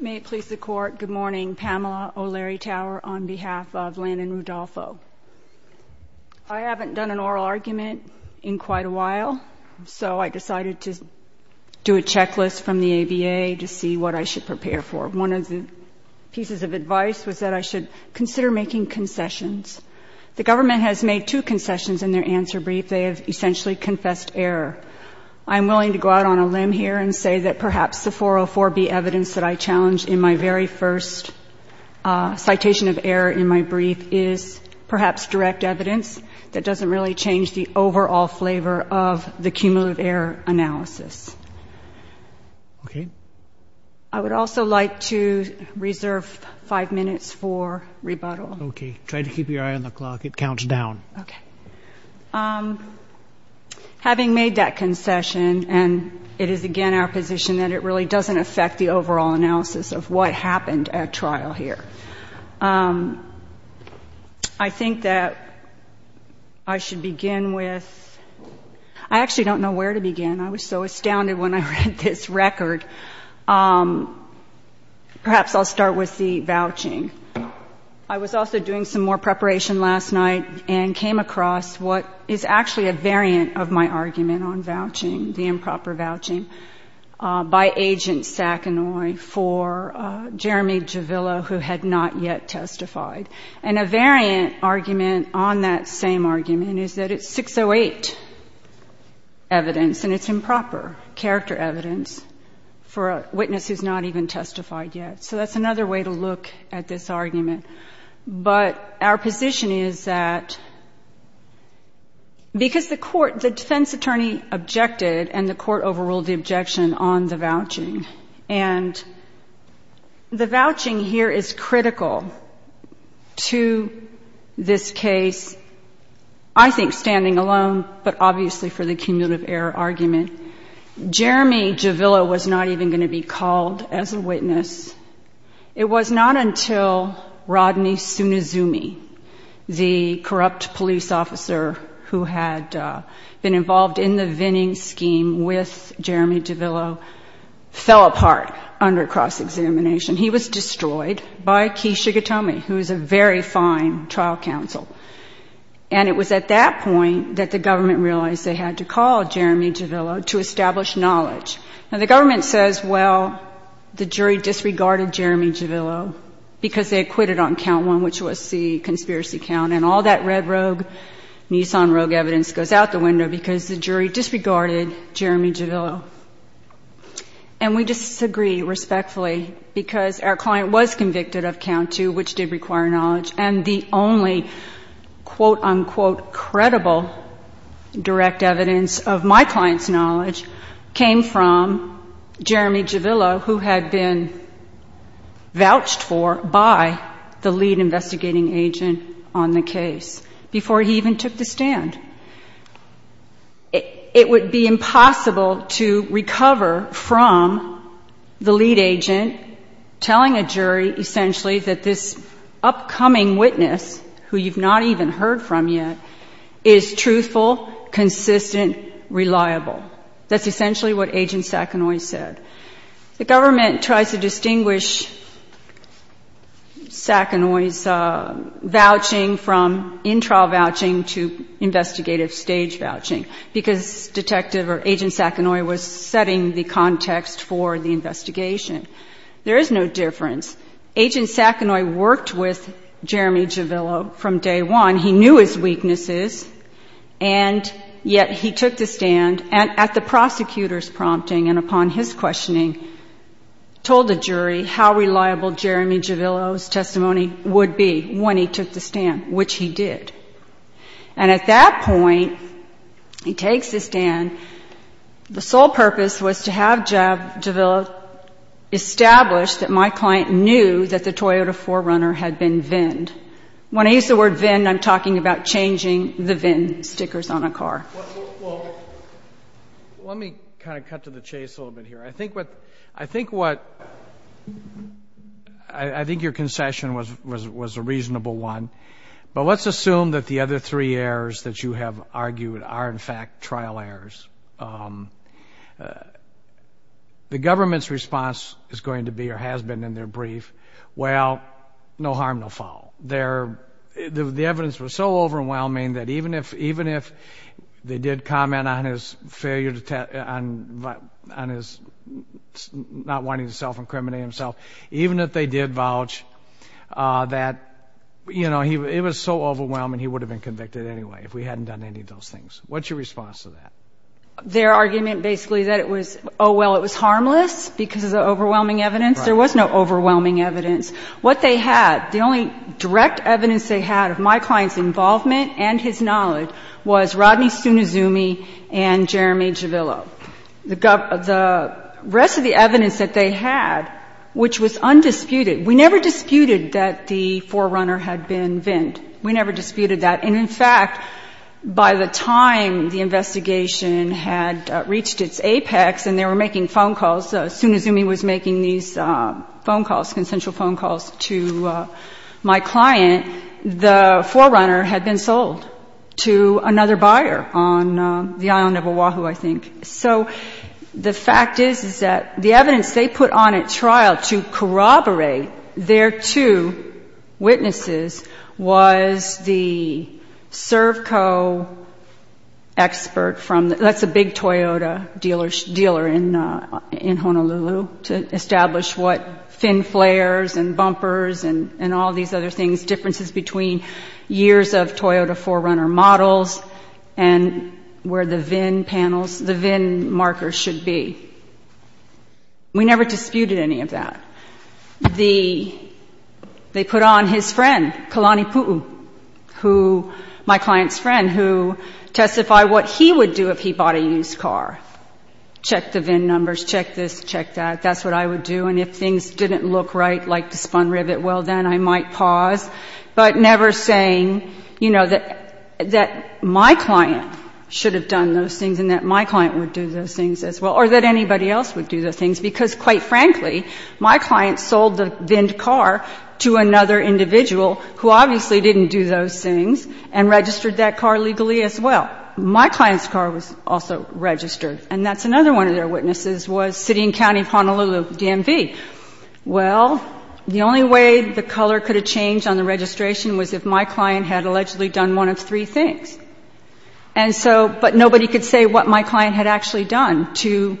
May it please the Court, good morning. Pamela O'Leary Tower on behalf of Landon Rudolfo. I haven't done an oral argument in quite a while, so I decided to do a checklist from the ABA to see what I should prepare for. One of the pieces of advice was that I should consider making concessions. The government has made two concessions in their answer brief. They have essentially confessed error. I'm willing to go out on a limb here and say that perhaps the 404B evidence that I challenged in my very first citation of error in my brief is perhaps direct evidence that doesn't really change the overall flavor of the cumulative error analysis. I would also like to reserve five minutes for rebuttal. Okay. Try to keep your eye on the clock. It counts down. Okay. Having made that concession, and it is again our position that it really doesn't affect the overall analysis of what happened at trial here. I think that I should begin with I actually don't know where to begin. I was so astounded when I read this record. Perhaps I'll start with the vouching. I was also doing some more preparation last night and came across what is actually a variant of my argument on vouching, the improper vouching, by Agent Sackanoi for Jeremy Javilla, who had not yet testified. And a variant argument on that same argument is that it's 608 evidence, and it's improper character evidence for a witness who's not even testified yet. So that's another way to look at this argument. But our position is that because the defense attorney objected and the court overruled the objection on the vouching, and the vouching here is critical to this case, I think standing alone, but obviously for the cumulative error argument, Jeremy Javilla was not even going to be called as a witness. It was not until Rodney Sunizumi, the corrupt police officer who had been involved in the vining scheme with Jeremy Javilla, fell apart under cross-examination. He was destroyed by Kei Shigetomi, who's a very fine trial counsel. And it was at that point that the government realized they had to call Jeremy Javilla to establish knowledge. Now, the government says, well, the jury disregarded Jeremy Javilla because they had quit it on conspiracy count, and all that red rogue, Nissan rogue evidence goes out the window because the jury disregarded Jeremy Javilla. And we disagree respectfully because our client was convicted of count two, which did require knowledge, and the only quote, unquote, credible direct evidence of my client's knowledge came from Jeremy Javilla, who had been vouched for by the lead investigating agent on the case before he even took the stand. It would be impossible to recover from the lead agent telling a jury essentially that this upcoming witness, who you've not even heard from yet, is truthful, consistent, reliable. That's essentially what Agent Sackanoi said. The government tries to distinguish Sackanoi's vouching from in-trial vouching to investigative stage vouching because Detective or Agent Sackanoi was setting the context for the investigation. There is no difference. Agent Sackanoi worked with Jeremy Javilla from day one. He knew his weaknesses, and yet he took the stand, and at the prosecutor's prompting and upon his questioning, told the jury how reliable Jeremy Javilla's testimony would be when he took the stand, which he did. And at that point, he takes the stand. The sole purpose was to have Javilla establish that my client knew that the Toyota 4Runner had been vinned. When I use the word vinned, I'm talking about changing the vinned stickers on a car. Let me kind of cut to the chase a little bit here. I think what, I think your concession was a reasonable one, but let's assume that the other three errors that you have argued are in fact trial errors. The government's response is going to be or has been in their favor. The evidence was so overwhelming that even if they did comment on his not wanting to self-incriminate himself, even if they did vouch that, you know, it was so overwhelming he would have been convicted anyway if we hadn't done any of those things. What's your response to that? Their argument basically that it was, oh, well, it was harmless because of the overwhelming evidence. There was no overwhelming evidence. What they had, the only direct evidence they had of my client's involvement and his knowledge was Rodney Sunizumi and Jeremy Javilla. The rest of the evidence that they had, which was undisputed, we never disputed that the 4Runner had been vinned. We never disputed that. And in fact, by the time the investigation had reached its apex and they were making phone calls, Sunizumi was making these phone calls, consensual phone calls to my client, and the 4Runner had been sold to another buyer on the island of Oahu, I think. So, the fact is, is that the evidence they put on at trial to corroborate their two witnesses was the Servco expert from, that's a big Toyota dealer in Honolulu, to establish what fin differences between years of Toyota 4Runner models and where the VIN panels, the VIN markers should be. We never disputed any of that. They put on his friend, Kalani Puu, who, my client's friend, who testified what he would do if he bought a used car. Check the VIN numbers, check this, check that. That's what I would do. And if things didn't look right, like the spun rivet, well, then I might pause. But never saying, you know, that my client should have done those things and that my client would do those things as well, or that anybody else would do those things, because, quite frankly, my client sold the vinned car to another individual who obviously didn't do those things and registered that car legally as well. My client's car was also registered. And that's another one of their witnesses was City and County of Honolulu DMV. Well, the only way the color could have changed on the registration was if my client had allegedly done one of three things. And so, but nobody could say what my client had actually done to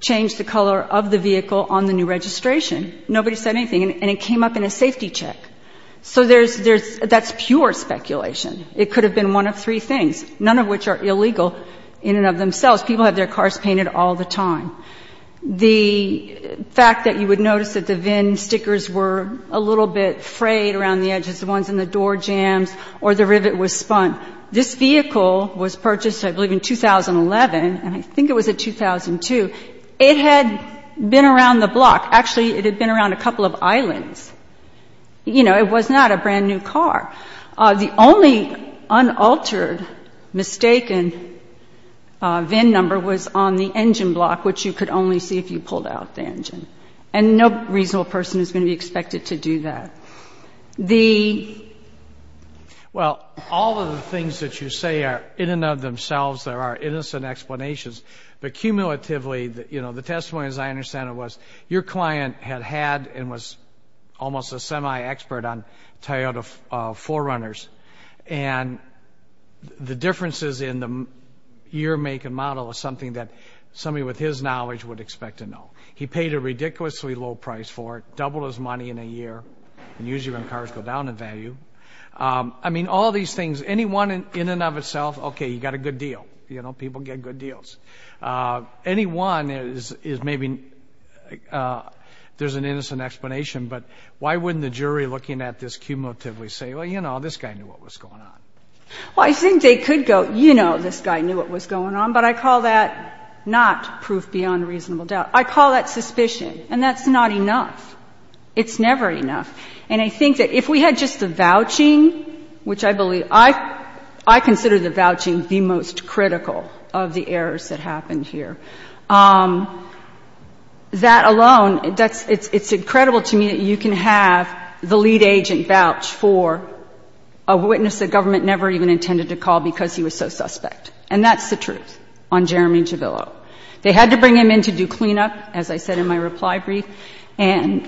change the color of the vehicle on the new registration. Nobody said anything. And it came up in a safety check. So there's, that's pure speculation. It could have been one of three things, none of which are illegal in and of themselves. People have their cars painted all the time. The fact that you would notice that the vinned stickers were a little bit frayed around the edges, the ones in the door jambs, or the rivet was spun. This vehicle was purchased, I believe, in 2011, and I think it was in 2002. It had been around the block. Actually, it had been around a couple of islands. You know, it was not a brand-new car. The only unaltered, mistaken vinned number was on the engine block, which you could only see if you pulled out the engine. And no reasonable person is going to be expected to do that. The... Well, all of the things that you say are in and of themselves. There are innocent explanations. But cumulatively, you know, the testimony, as I understand it, was your client had had and was almost a semi-expert on Toyota 4Runners, and the differences in the year, make, and model is something that somebody with his knowledge would expect to know. He paid a ridiculously low price for it, doubled his money in a year, and usually when cars go down in value. I mean, all these things, any one in and of itself, okay, you can get good deals. Any one is maybe, there's an innocent explanation, but why wouldn't the jury looking at this cumulatively say, well, you know, this guy knew what was going on? Well, I think they could go, you know, this guy knew what was going on. But I call that not proof beyond reasonable doubt. I call that suspicion. And that's not enough. It's never enough. And I think that if we had just the vouching, which I believe, I consider the vouching the most critical of the errors that happened here, that alone, it's incredible to me that you can have the lead agent vouch for a witness the government never even intended to call because he was so suspect. And that's the truth on Jeremy Javillo. They had to bring him in to do cleanup, as I said in my reply brief, because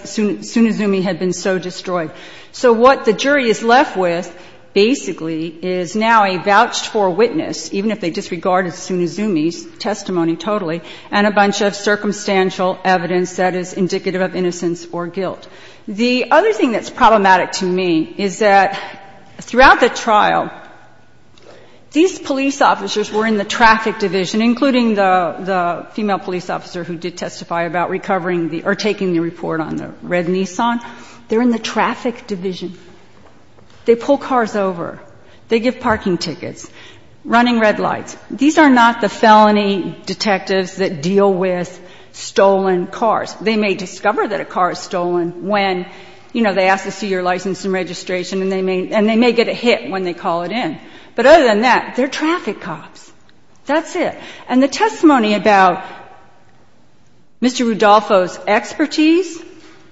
Tsunizumi had been so destroyed. So what the jury is left with basically is now a vouched for witness, even if they disregarded Tsunizumi's testimony totally, and a bunch of circumstantial evidence that is indicative of innocence or guilt. The other thing that's problematic to me is that throughout the trial, these police officers were in the traffic division, including the female police officer who did testify about recovering the or taking the report on the red Nissan. They're in the traffic division. They pull cars over. They give parking tickets, running red lights. These are not the felony detectives that deal with stolen cars. They may discover that a car is stolen when, you know, they ask to see your license and registration, and they may get a hit when they call it in. But other than that, they're traffic cops. That's it. And the testimony about Mr. Rudolfo's expertise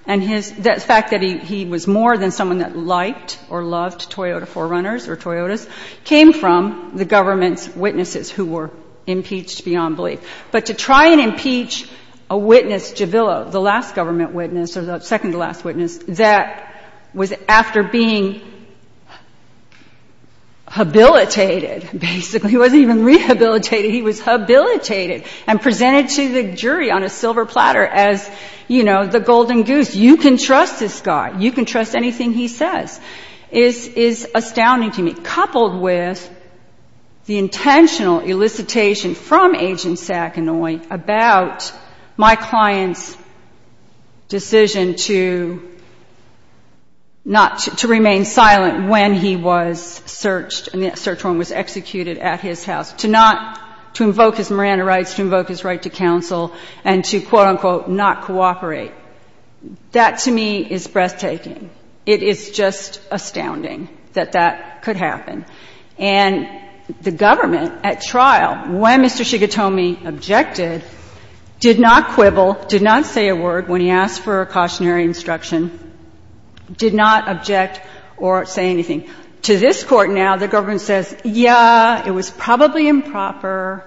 and his fact that he was more than someone that liked or loved Toyota 4Runners or Toyotas came from the government's witnesses who were impeached beyond belief. But to try and impeach a witness, Javilla, the last government witness or the second to last witness, that was after being habilitated, basically. He wasn't even rehabilitated. He was habilitated and presented to the jury on a silver platter as, you know, the golden goose. You can trust this guy. You can trust anything he says is astounding to me. Coupled with the intentional elicitation from Agent Sackanoi about my client's decision to not to remain silent when he was searched and the search warrant was executed at his house, to not to invoke his Miranda rights, to invoke his right to counsel and to, quote, unquote, not cooperate, that to me is breathtaking. It is just astounding that that could happen. And the government at trial, when Mr. Shigatomi objected, did not quibble, did not say a word when he asked for a cautionary instruction, did not object or say anything. To this Court now, the government says, yeah, it was probably improper,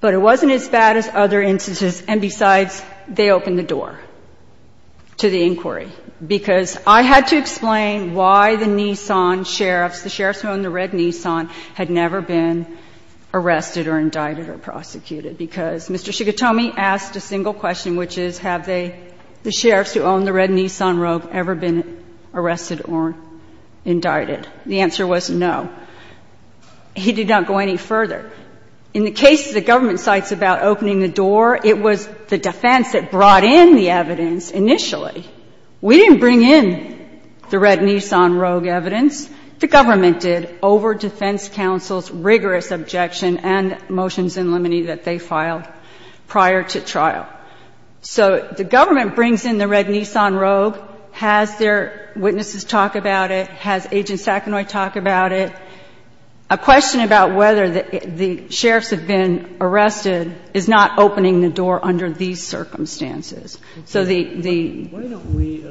but it wasn't as bad as other instances, and besides, they opened the door to the inquiry. Because I had to explain why the Nissan sheriffs, the sheriffs who owned the red Nissan had never been arrested or indicted or prosecuted. Because Mr. Shigatomi asked a single question, which is have they, the sheriffs who owned the red Nissan Rogue, ever been arrested or indicted? The answer was no. He did not go any further. In the case the government cites about opening the door, it was the defense that brought in the evidence initially. We didn't bring in the red Nissan Rogue evidence. The government did over defense counsel's rigorous objection and motions in limine that they filed prior to trial. So the government brings in the red Nissan Rogue, has their witnesses talk about it, has Agent Sackanoi talk about it. A question about whether the sheriffs have been arrested is not opening the door under these circumstances. So the the Why don't we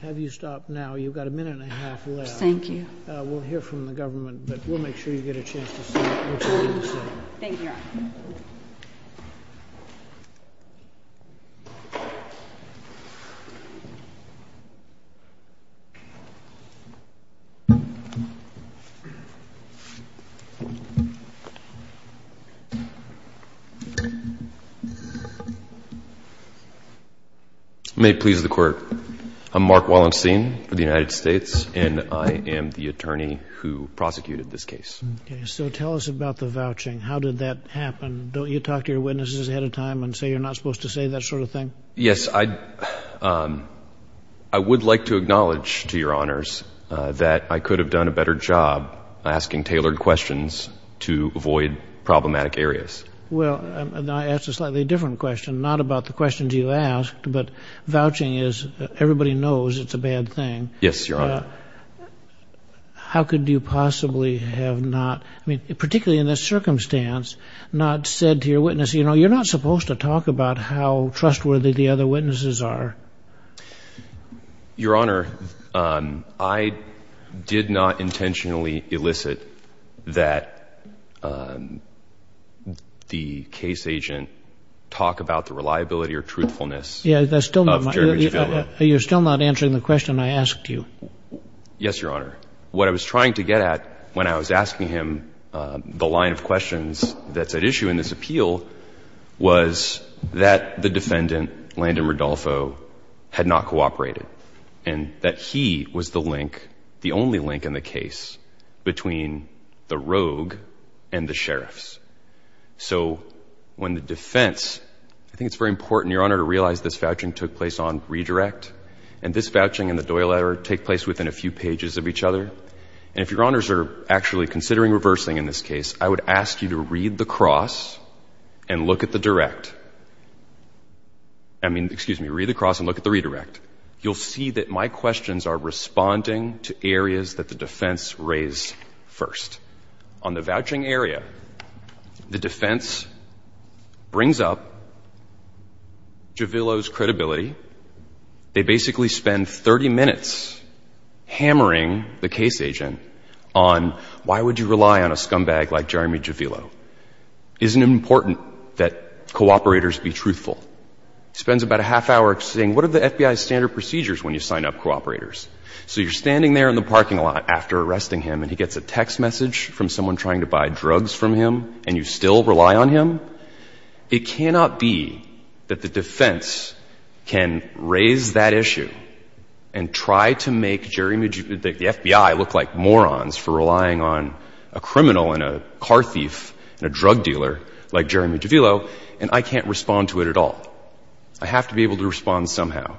have you stop now? You've got a minute and a half left. Thank you. We'll hear from the government, but we'll make sure you get a chance to say what you need to say. Thank you, Your Honor. Thank you. May it please the court. I'm Mark Wallenstein for the United States, and I am the attorney who prosecuted this case. So tell us about the vouching. How did that happen? Don't you talk to your witnesses ahead of time and say you're not supposed to say that sort of thing? Yes, I I would like to acknowledge to your honors that I could have done a better job asking tailored questions to avoid problematic areas. Well, I asked a slightly different question, not about the questions you asked, but vouching is everybody knows it's a bad thing. Yes, Your Honor. How could you possibly have not, I mean, particularly in this circumstance, not said to your witness, you know, you're not supposed to talk about how trustworthy the other witnesses are. Your Honor, I did not intentionally elicit that the case agent talk about the reliability or truthfulness. Yeah, that's still. You're still not answering the question I asked you. Yes, Your Honor. What I was trying to get at when I was asking him the line of questions that's at issue in this appeal was that the defendant, Landon Rodolfo, had not cooperated and that he was the link, the only link in the case between the rogue and the sheriffs. So when the defense, I think it's very important, Your Honor, to realize this vouching took place on redirect and this vouching and the Doyle error take place within a few pages of each other. And if Your Honors are actually considering reversing in this case, I would ask you to read the cross and look at the direct. I mean, excuse me, read the cross and look at the redirect. You'll see that my questions are responding to areas that the defense raised first. On the vouching area, the defense brings up Javillo's credibility. They basically spend 30 minutes hammering the case agent on why would you rely on a scumbag like Jeremy Javillo. Isn't it important that cooperators be truthful? Spends about a half hour saying, what are the FBI's standard procedures when you sign up cooperators? So you're standing there in the parking lot after arresting him and he gets a text message from someone trying to buy drugs from him and you still rely on him? It cannot be that the defense can raise that issue and try to make the FBI look like morons for relying on a criminal and a car thief and a drug dealer like Jeremy Javillo and I can't respond to it at all. I have to be able to respond somehow.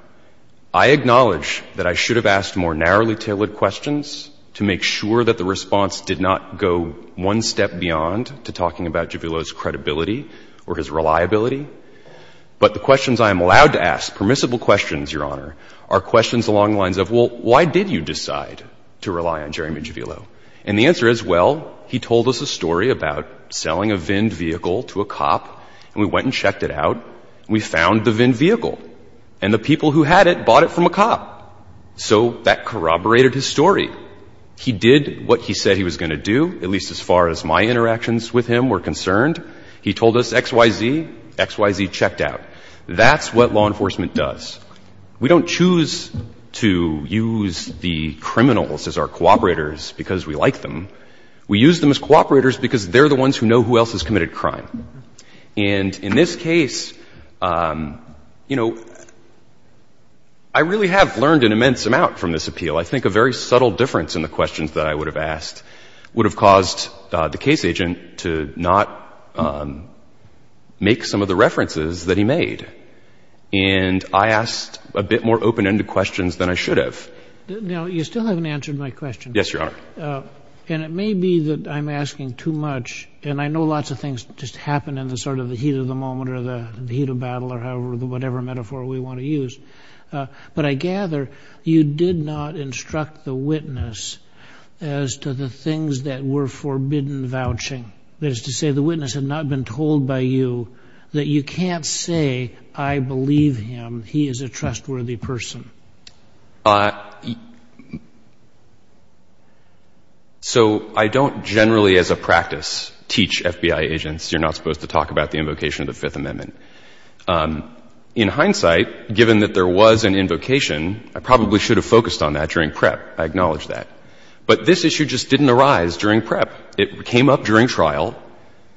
I acknowledge that I should have asked more narrowly tailored questions to make sure that the response did not go one step beyond to talking about Javillo's credibility or his reliability. But the questions I am allowed to ask, permissible questions, Your Honor, are questions along the lines of, well, why did you decide to rely on Jeremy Javillo? And the answer is, well, he told us a story about selling a VIN vehicle to a cop and we went and checked it out. We found the VIN vehicle and the people who had it bought it from a cop. So that corroborated his story. He did what he said he was going to do, at least as far as my interactions with him were concerned. He told us X, Y, Z, X, Y, Z, checked out. That's what law enforcement does. We don't choose to use the criminals as our cooperators because we like them. We use them as cooperators because they're the ones who know who else has committed crime. And in this case, you know, I really have learned an immense amount from this appeal. I think a very subtle difference in the questions that I would have asked would have caused the case agent to not make some of the references that he made. And I asked a bit more open-ended questions than I should have. Now, you still haven't answered my question. Yes, Your Honor. And it may be that I'm asking too much. And I know lots of things just happen in the sort of the heat of the moment or the heat of battle or whatever metaphor we want to use. But I gather you did not instruct the witness as to the things that were forbidden vouching. That is to say, the witness had not been told by you that you can't say, I believe him, he is a trustworthy person. So I don't generally as a practice teach FBI agents you're not supposed to talk about the invocation of the Fifth Amendment. In hindsight, given that there was an invocation, I probably should have focused on that during PrEP. I acknowledge that. But this issue just didn't arise during PrEP. It came up during trial.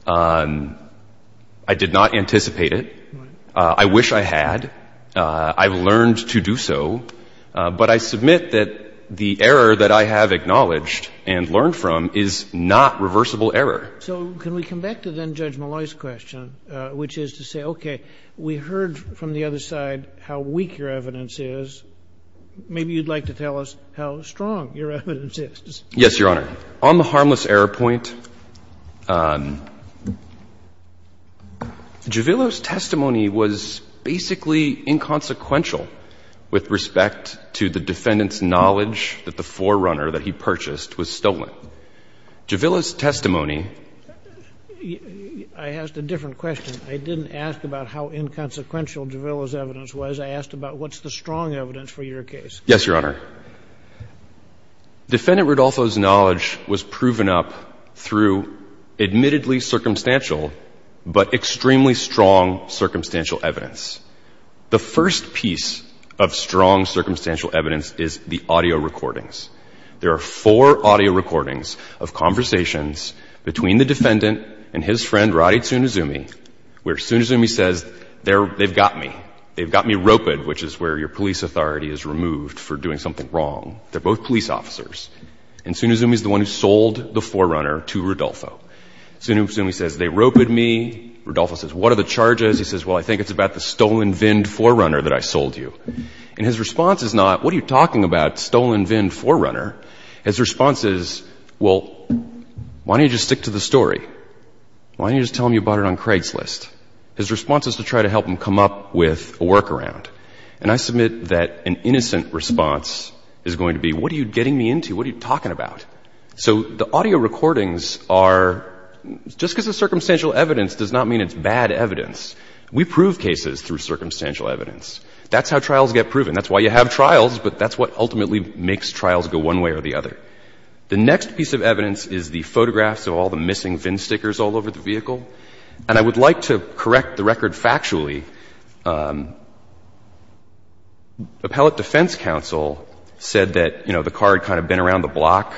I did not anticipate it. I wish I had. I've learned to do so. But I submit that the error that I have acknowledged and learned from is not reversible error. So can we come back to then Judge Malloy's question, which is to say, okay, we heard from the other side how weak your evidence is. Maybe you'd like to tell us how strong your evidence is. Yes, Your Honor. On the harmless error point, Juvillo's testimony was basically inconsequential with respect to the defendant's knowledge that the forerunner that he purchased was stolen. Juvillo's testimony I asked a different question. I didn't ask about how inconsequential Juvillo's evidence was. I asked about what's the strong evidence for your case. Yes, Your Honor. Defendant Rodolfo's knowledge was proven up through admittedly circumstantial but extremely strong circumstantial evidence. The first piece of strong circumstantial evidence is the audio recordings. There are four audio recordings of conversations between the defendant and his friend Roddy Tsunizumi where Tsunizumi says, they've got me. They've got me roped, which is where your police authority is removed for doing something wrong. They're both police officers. And Tsunizumi's the one who sold the forerunner to Rodolfo. Tsunizumi says, they roped me. Rodolfo says, what are the charges? He says, well, I think it's about the stolen VIN forerunner that I sold you. And his response is not, what are you talking about, stolen VIN forerunner? His response is, well, why don't you just stick to the story? Why don't you just tell him you bought it on Craigslist? His response is to try to help him come up with a workaround. And I submit that an innocent response is going to be, what are you getting me into? What are you talking about? So the audio recordings are, just because it's circumstantial evidence does not mean it's bad evidence. We prove cases through circumstantial evidence. That's how trials get proven. That's why you have trials. But that's what ultimately makes trials go one way or the other. The next piece of evidence is the photographs of all the missing VIN stickers all over the vehicle. And I would like to correct the record factually. Appellate defense counsel said that, you know, the car had kind of been around the block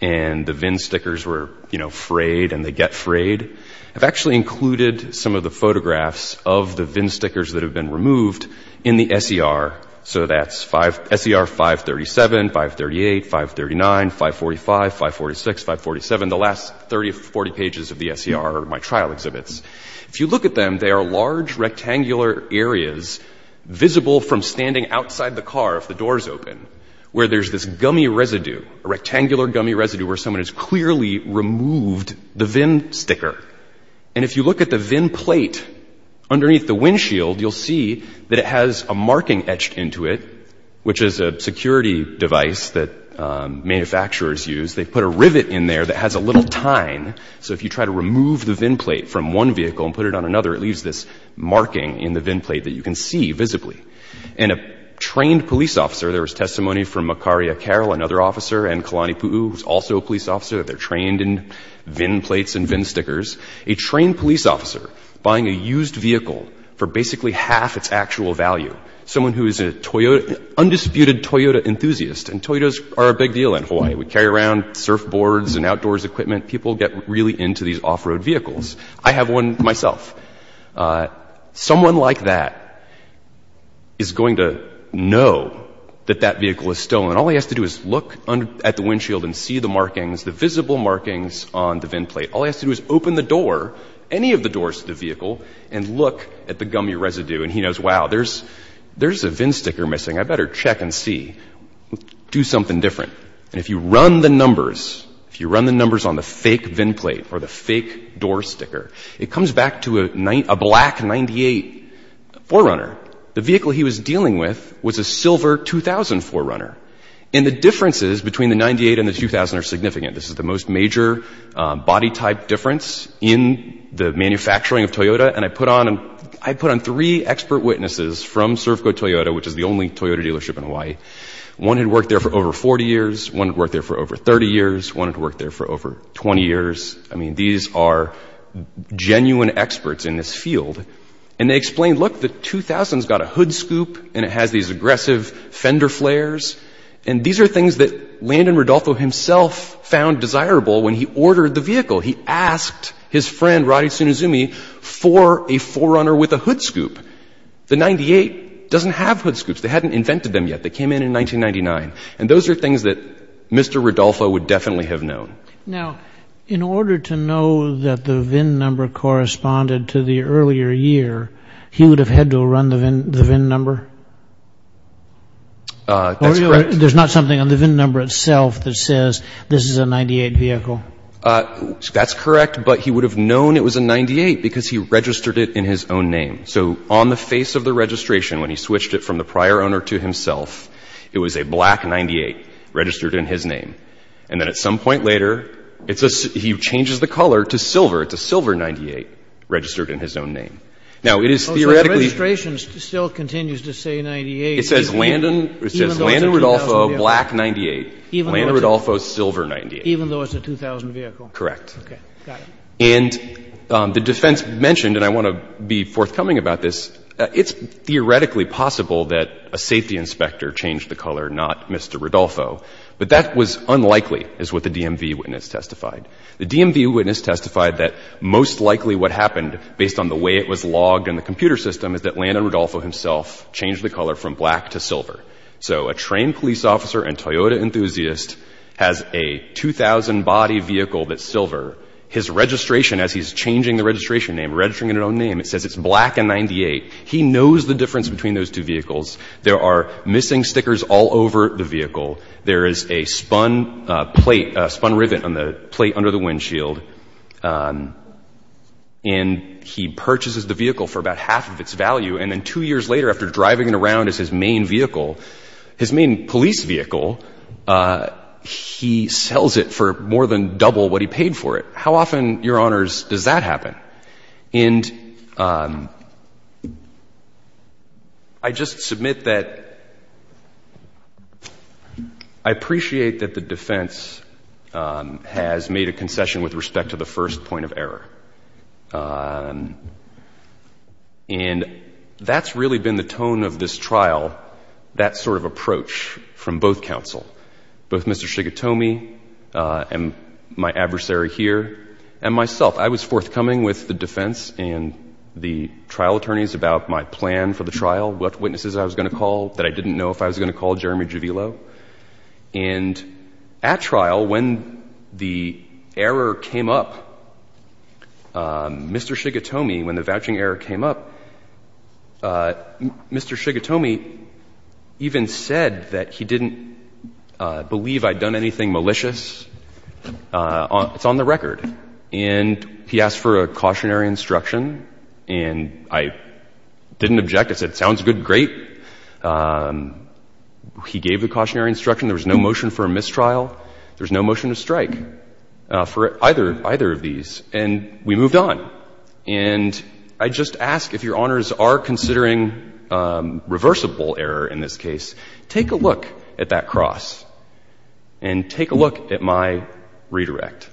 and the VIN stickers were, you know, frayed and they get frayed. I've actually included some of the photographs of the VIN stickers that have been removed in the S.E.R. So that's S.E.R. 537, 538, 539, 545, 546, 547. The last 30 or 40 pages of the S.E.R. are my trial exhibits. If you look at them, they are large rectangular areas visible from standing outside the car if the door is open, where there's this gummy residue, a rectangular gummy residue where someone has clearly removed the VIN sticker. And if you look at the VIN plate underneath the windshield, you'll see that it has a marking etched into it, which is a security device that manufacturers use. They put a rivet in there that has a little tine. So if you try to remove the VIN plate from one vehicle and put it on another, it leaves this marking in the VIN plate that you can see visibly. And a trained police officer, there was testimony from Makari Akero, another officer, and Kalani Pu'u, who's also a police officer. They're trained in VIN plates and VIN stickers. A trained police officer buying a used vehicle for basically half its actual value. Someone who is an undisputed Toyota enthusiast, and Toyotas are a big deal in Hawaii. We carry around surfboards and outdoors equipment. People get really into these off-road vehicles. I have one myself. Someone like that is going to know that that vehicle is stolen. And all he has to do is look at the windshield and see the markings, the visible markings on the VIN plate. All he has to do is open the door, any of the doors to the vehicle, and look at the gummy residue. And he knows, wow, there's a VIN sticker missing. I better check and see. Do something different. And if you run the numbers, if you run the numbers on the fake VIN plate or the fake door sticker, it comes back to a black 98 4Runner. The vehicle he was dealing with was a silver 2000 4Runner. And the differences between the 98 and the 2000 are significant. This is the most major body type difference in the manufacturing of Toyota. And I put on three expert witnesses from Servco Toyota, which is the only Toyota dealership in Hawaii. One had worked there for over 40 years. One had worked there for over 30 years. One had worked there for over 20 years. I mean, these are genuine experts in this field. And they explained, look, the 2000's got a hood scoop and it has these aggressive fender flares. And these are things that Landon Rodolfo himself found desirable when he ordered the vehicle. He asked his friend, Roddy Tsunizumi, for a 4Runner with a hood scoop. The 98 doesn't have hood scoops. They hadn't invented them yet. They came in in 1999. And those are things that Mr. Rodolfo would definitely have known. Now, in order to know that the VIN number corresponded to the earlier year, he would have had to run the VIN number? That's correct. There's not something on the VIN number itself that says this is a 98 vehicle? That's correct, but he would have known it was a 98 because he registered it in his own name. So on the face of the registration, when he switched it from the prior owner to himself, it was a black 98 registered in his name. And then at some point later, he changes the color to silver. It's a silver 98 registered in his own name. Now, it is theoretically... So the registration still continues to say 98. It says Landon Rodolfo, black 98. Landon Rodolfo, silver 98. Even though it's a 2000 vehicle? Correct. Okay. Got it. And the defense mentioned, and I want to be forthcoming about this, it's theoretically possible that a safety inspector changed the color, not Mr. Rodolfo. But that was unlikely, is what the DMV witness testified. The DMV witness testified that most likely what happened, based on the way it was logged in the computer system, is that Landon Rodolfo himself changed the color from black to silver. So a trained police officer and Toyota enthusiast has a 2000 body vehicle that's silver. His registration, as he's changing the registration name, registering it in his own name, it says it's black and 98. There are missing stickers all over the vehicle. There is a spun plate, a spun rivet on the plate under the windshield. And he purchases the vehicle for about half of its value. And then two years later, after driving it around as his main vehicle, his main police vehicle, he sells it for more than double what he paid for it. How often, Your Honors, does that happen? And I just submit that I appreciate that the defense has made a concession with respect to the first point of error. And that's really been the tone of this trial, that sort of approach from both counsel, both Mr. Shigatomi and my adversary here and myself. I was forthcoming with the defense and the trial attorneys about my plan for the trial, what witnesses I was going to call that I didn't know if I was going to call, Jeremy Juvilo. And at trial, when the error came up, Mr. Shigatomi, when the vouching error came up, Mr. Shigatomi even said that he didn't believe I'd done anything malicious. It's on the record. And he asked for a cautionary instruction. And I didn't object. I said, sounds good, great. He gave the cautionary instruction. There was no motion for a mistrial. There was no motion to strike for either of these. And we moved on. And I just ask, if Your Honors are considering reversible error in this case, take a look at that cross and take a look at my redirect.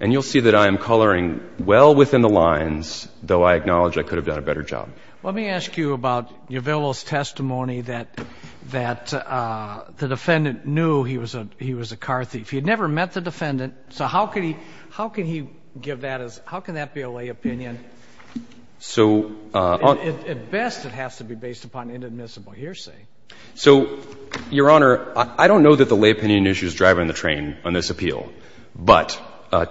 And you'll see that I am coloring well within the lines, though I acknowledge I could have done a better job. Let me ask you about Juvilo's testimony that the defendant knew he was a Carthief. He had never met the defendant. So how can he give that as, how can that be a lay opinion? At best, it has to be based upon inadmissible hearsay. So, Your Honor, I don't know that the lay opinion issue is driving the train on this appeal. But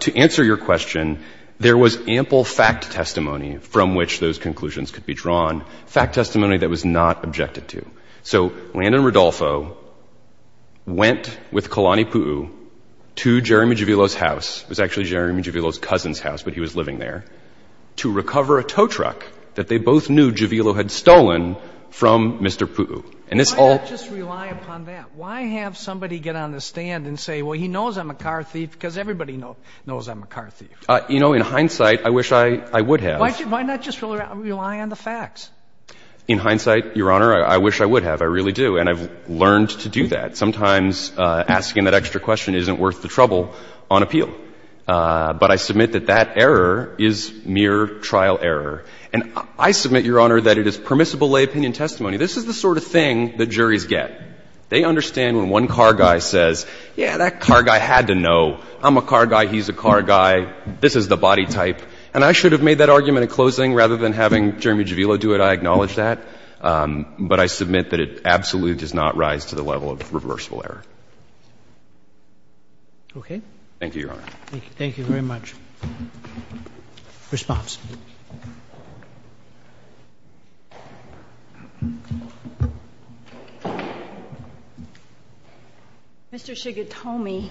to answer your question, there was ample fact testimony from which those conclusions could be drawn, fact testimony that was not objected to. So Landon Rodolfo went with Kalani Pu'u to Jeremy Juvilo's house, it was actually Jeremy Juvilo's cousin's house, but he was living there, to recover a tow truck that they both knew Juvilo had stolen from Mr. Pu'u. Why not just rely upon that? Why have somebody get on the stand and say, well, he knows I'm a Carthief, because everybody knows I'm a Carthief. You know, in hindsight, I wish I would have. Why not just rely on the facts? In hindsight, Your Honor, I wish I would have. I really do. And I've learned to do that. Sometimes asking that extra question isn't worth the trouble on appeal. But I submit that that error is mere trial error. And I submit, Your Honor, that it is permissible lay opinion testimony. This is the sort of thing that juries get. They understand when one car guy says, yeah, that car guy had to know. I'm a car guy. He's a car guy. This is the body type. And I should have made that argument at closing. Rather than having Jeremy Juvilo do it, I acknowledge that. But I submit that it absolutely does not rise to the level of reversible error. Roberts. Okay. Thank you, Your Honor. Thank you. Thank you very much. Response. Mr. Shigatomi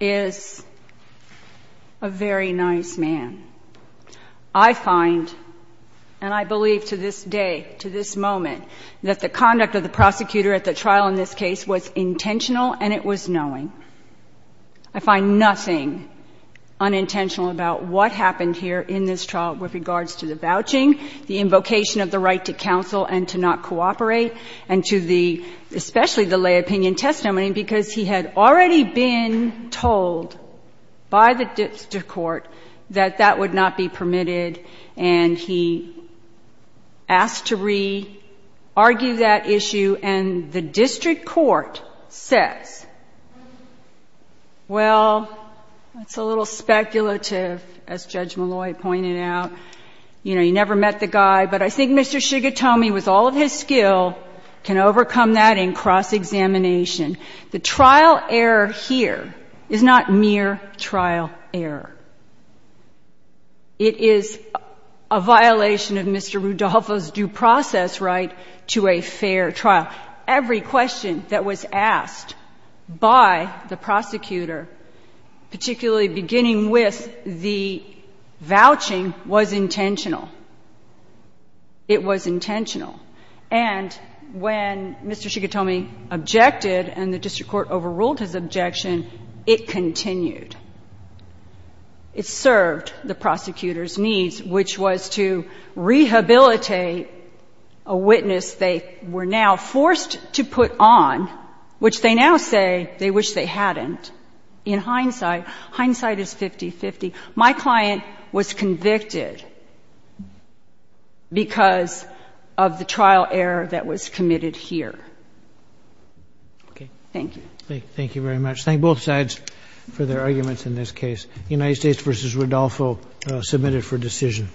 is a very nice man. I find, and I believe to this day, to this moment, that the conduct of the prosecutor at the trial in this case was intentional and it was knowing. I find nothing unintentional about what he did. What happened here in this trial with regards to the vouching, the invocation of the right to counsel and to not cooperate, and to the, especially the lay opinion testimony, because he had already been told by the district court that that would not be permitted. And he asked to re-argue that issue. And the district court says, well, that's a little speculative as Judge Malloy pointed out. You know, you never met the guy. But I think Mr. Shigatomi, with all of his skill, can overcome that in cross-examination. The trial error here is not mere trial error. It is a violation of Mr. Rudolpho's due process right to a fair trial. Every question that was asked by the prosecutor, particularly beginning with the vouching, was intentional. It was intentional. And when Mr. Shigatomi objected and the district court overruled his objection, it continued. It served the prosecutor's needs, which was to rehabilitate a witness they were now forced to put on, which they now say they wish they hadn't. In hindsight, hindsight is 50-50. My client was convicted because of the trial error that was committed here. Thank you. Thank you very much. Thank both sides for their arguments in this case. United States v. Rudolpho submitted for decision.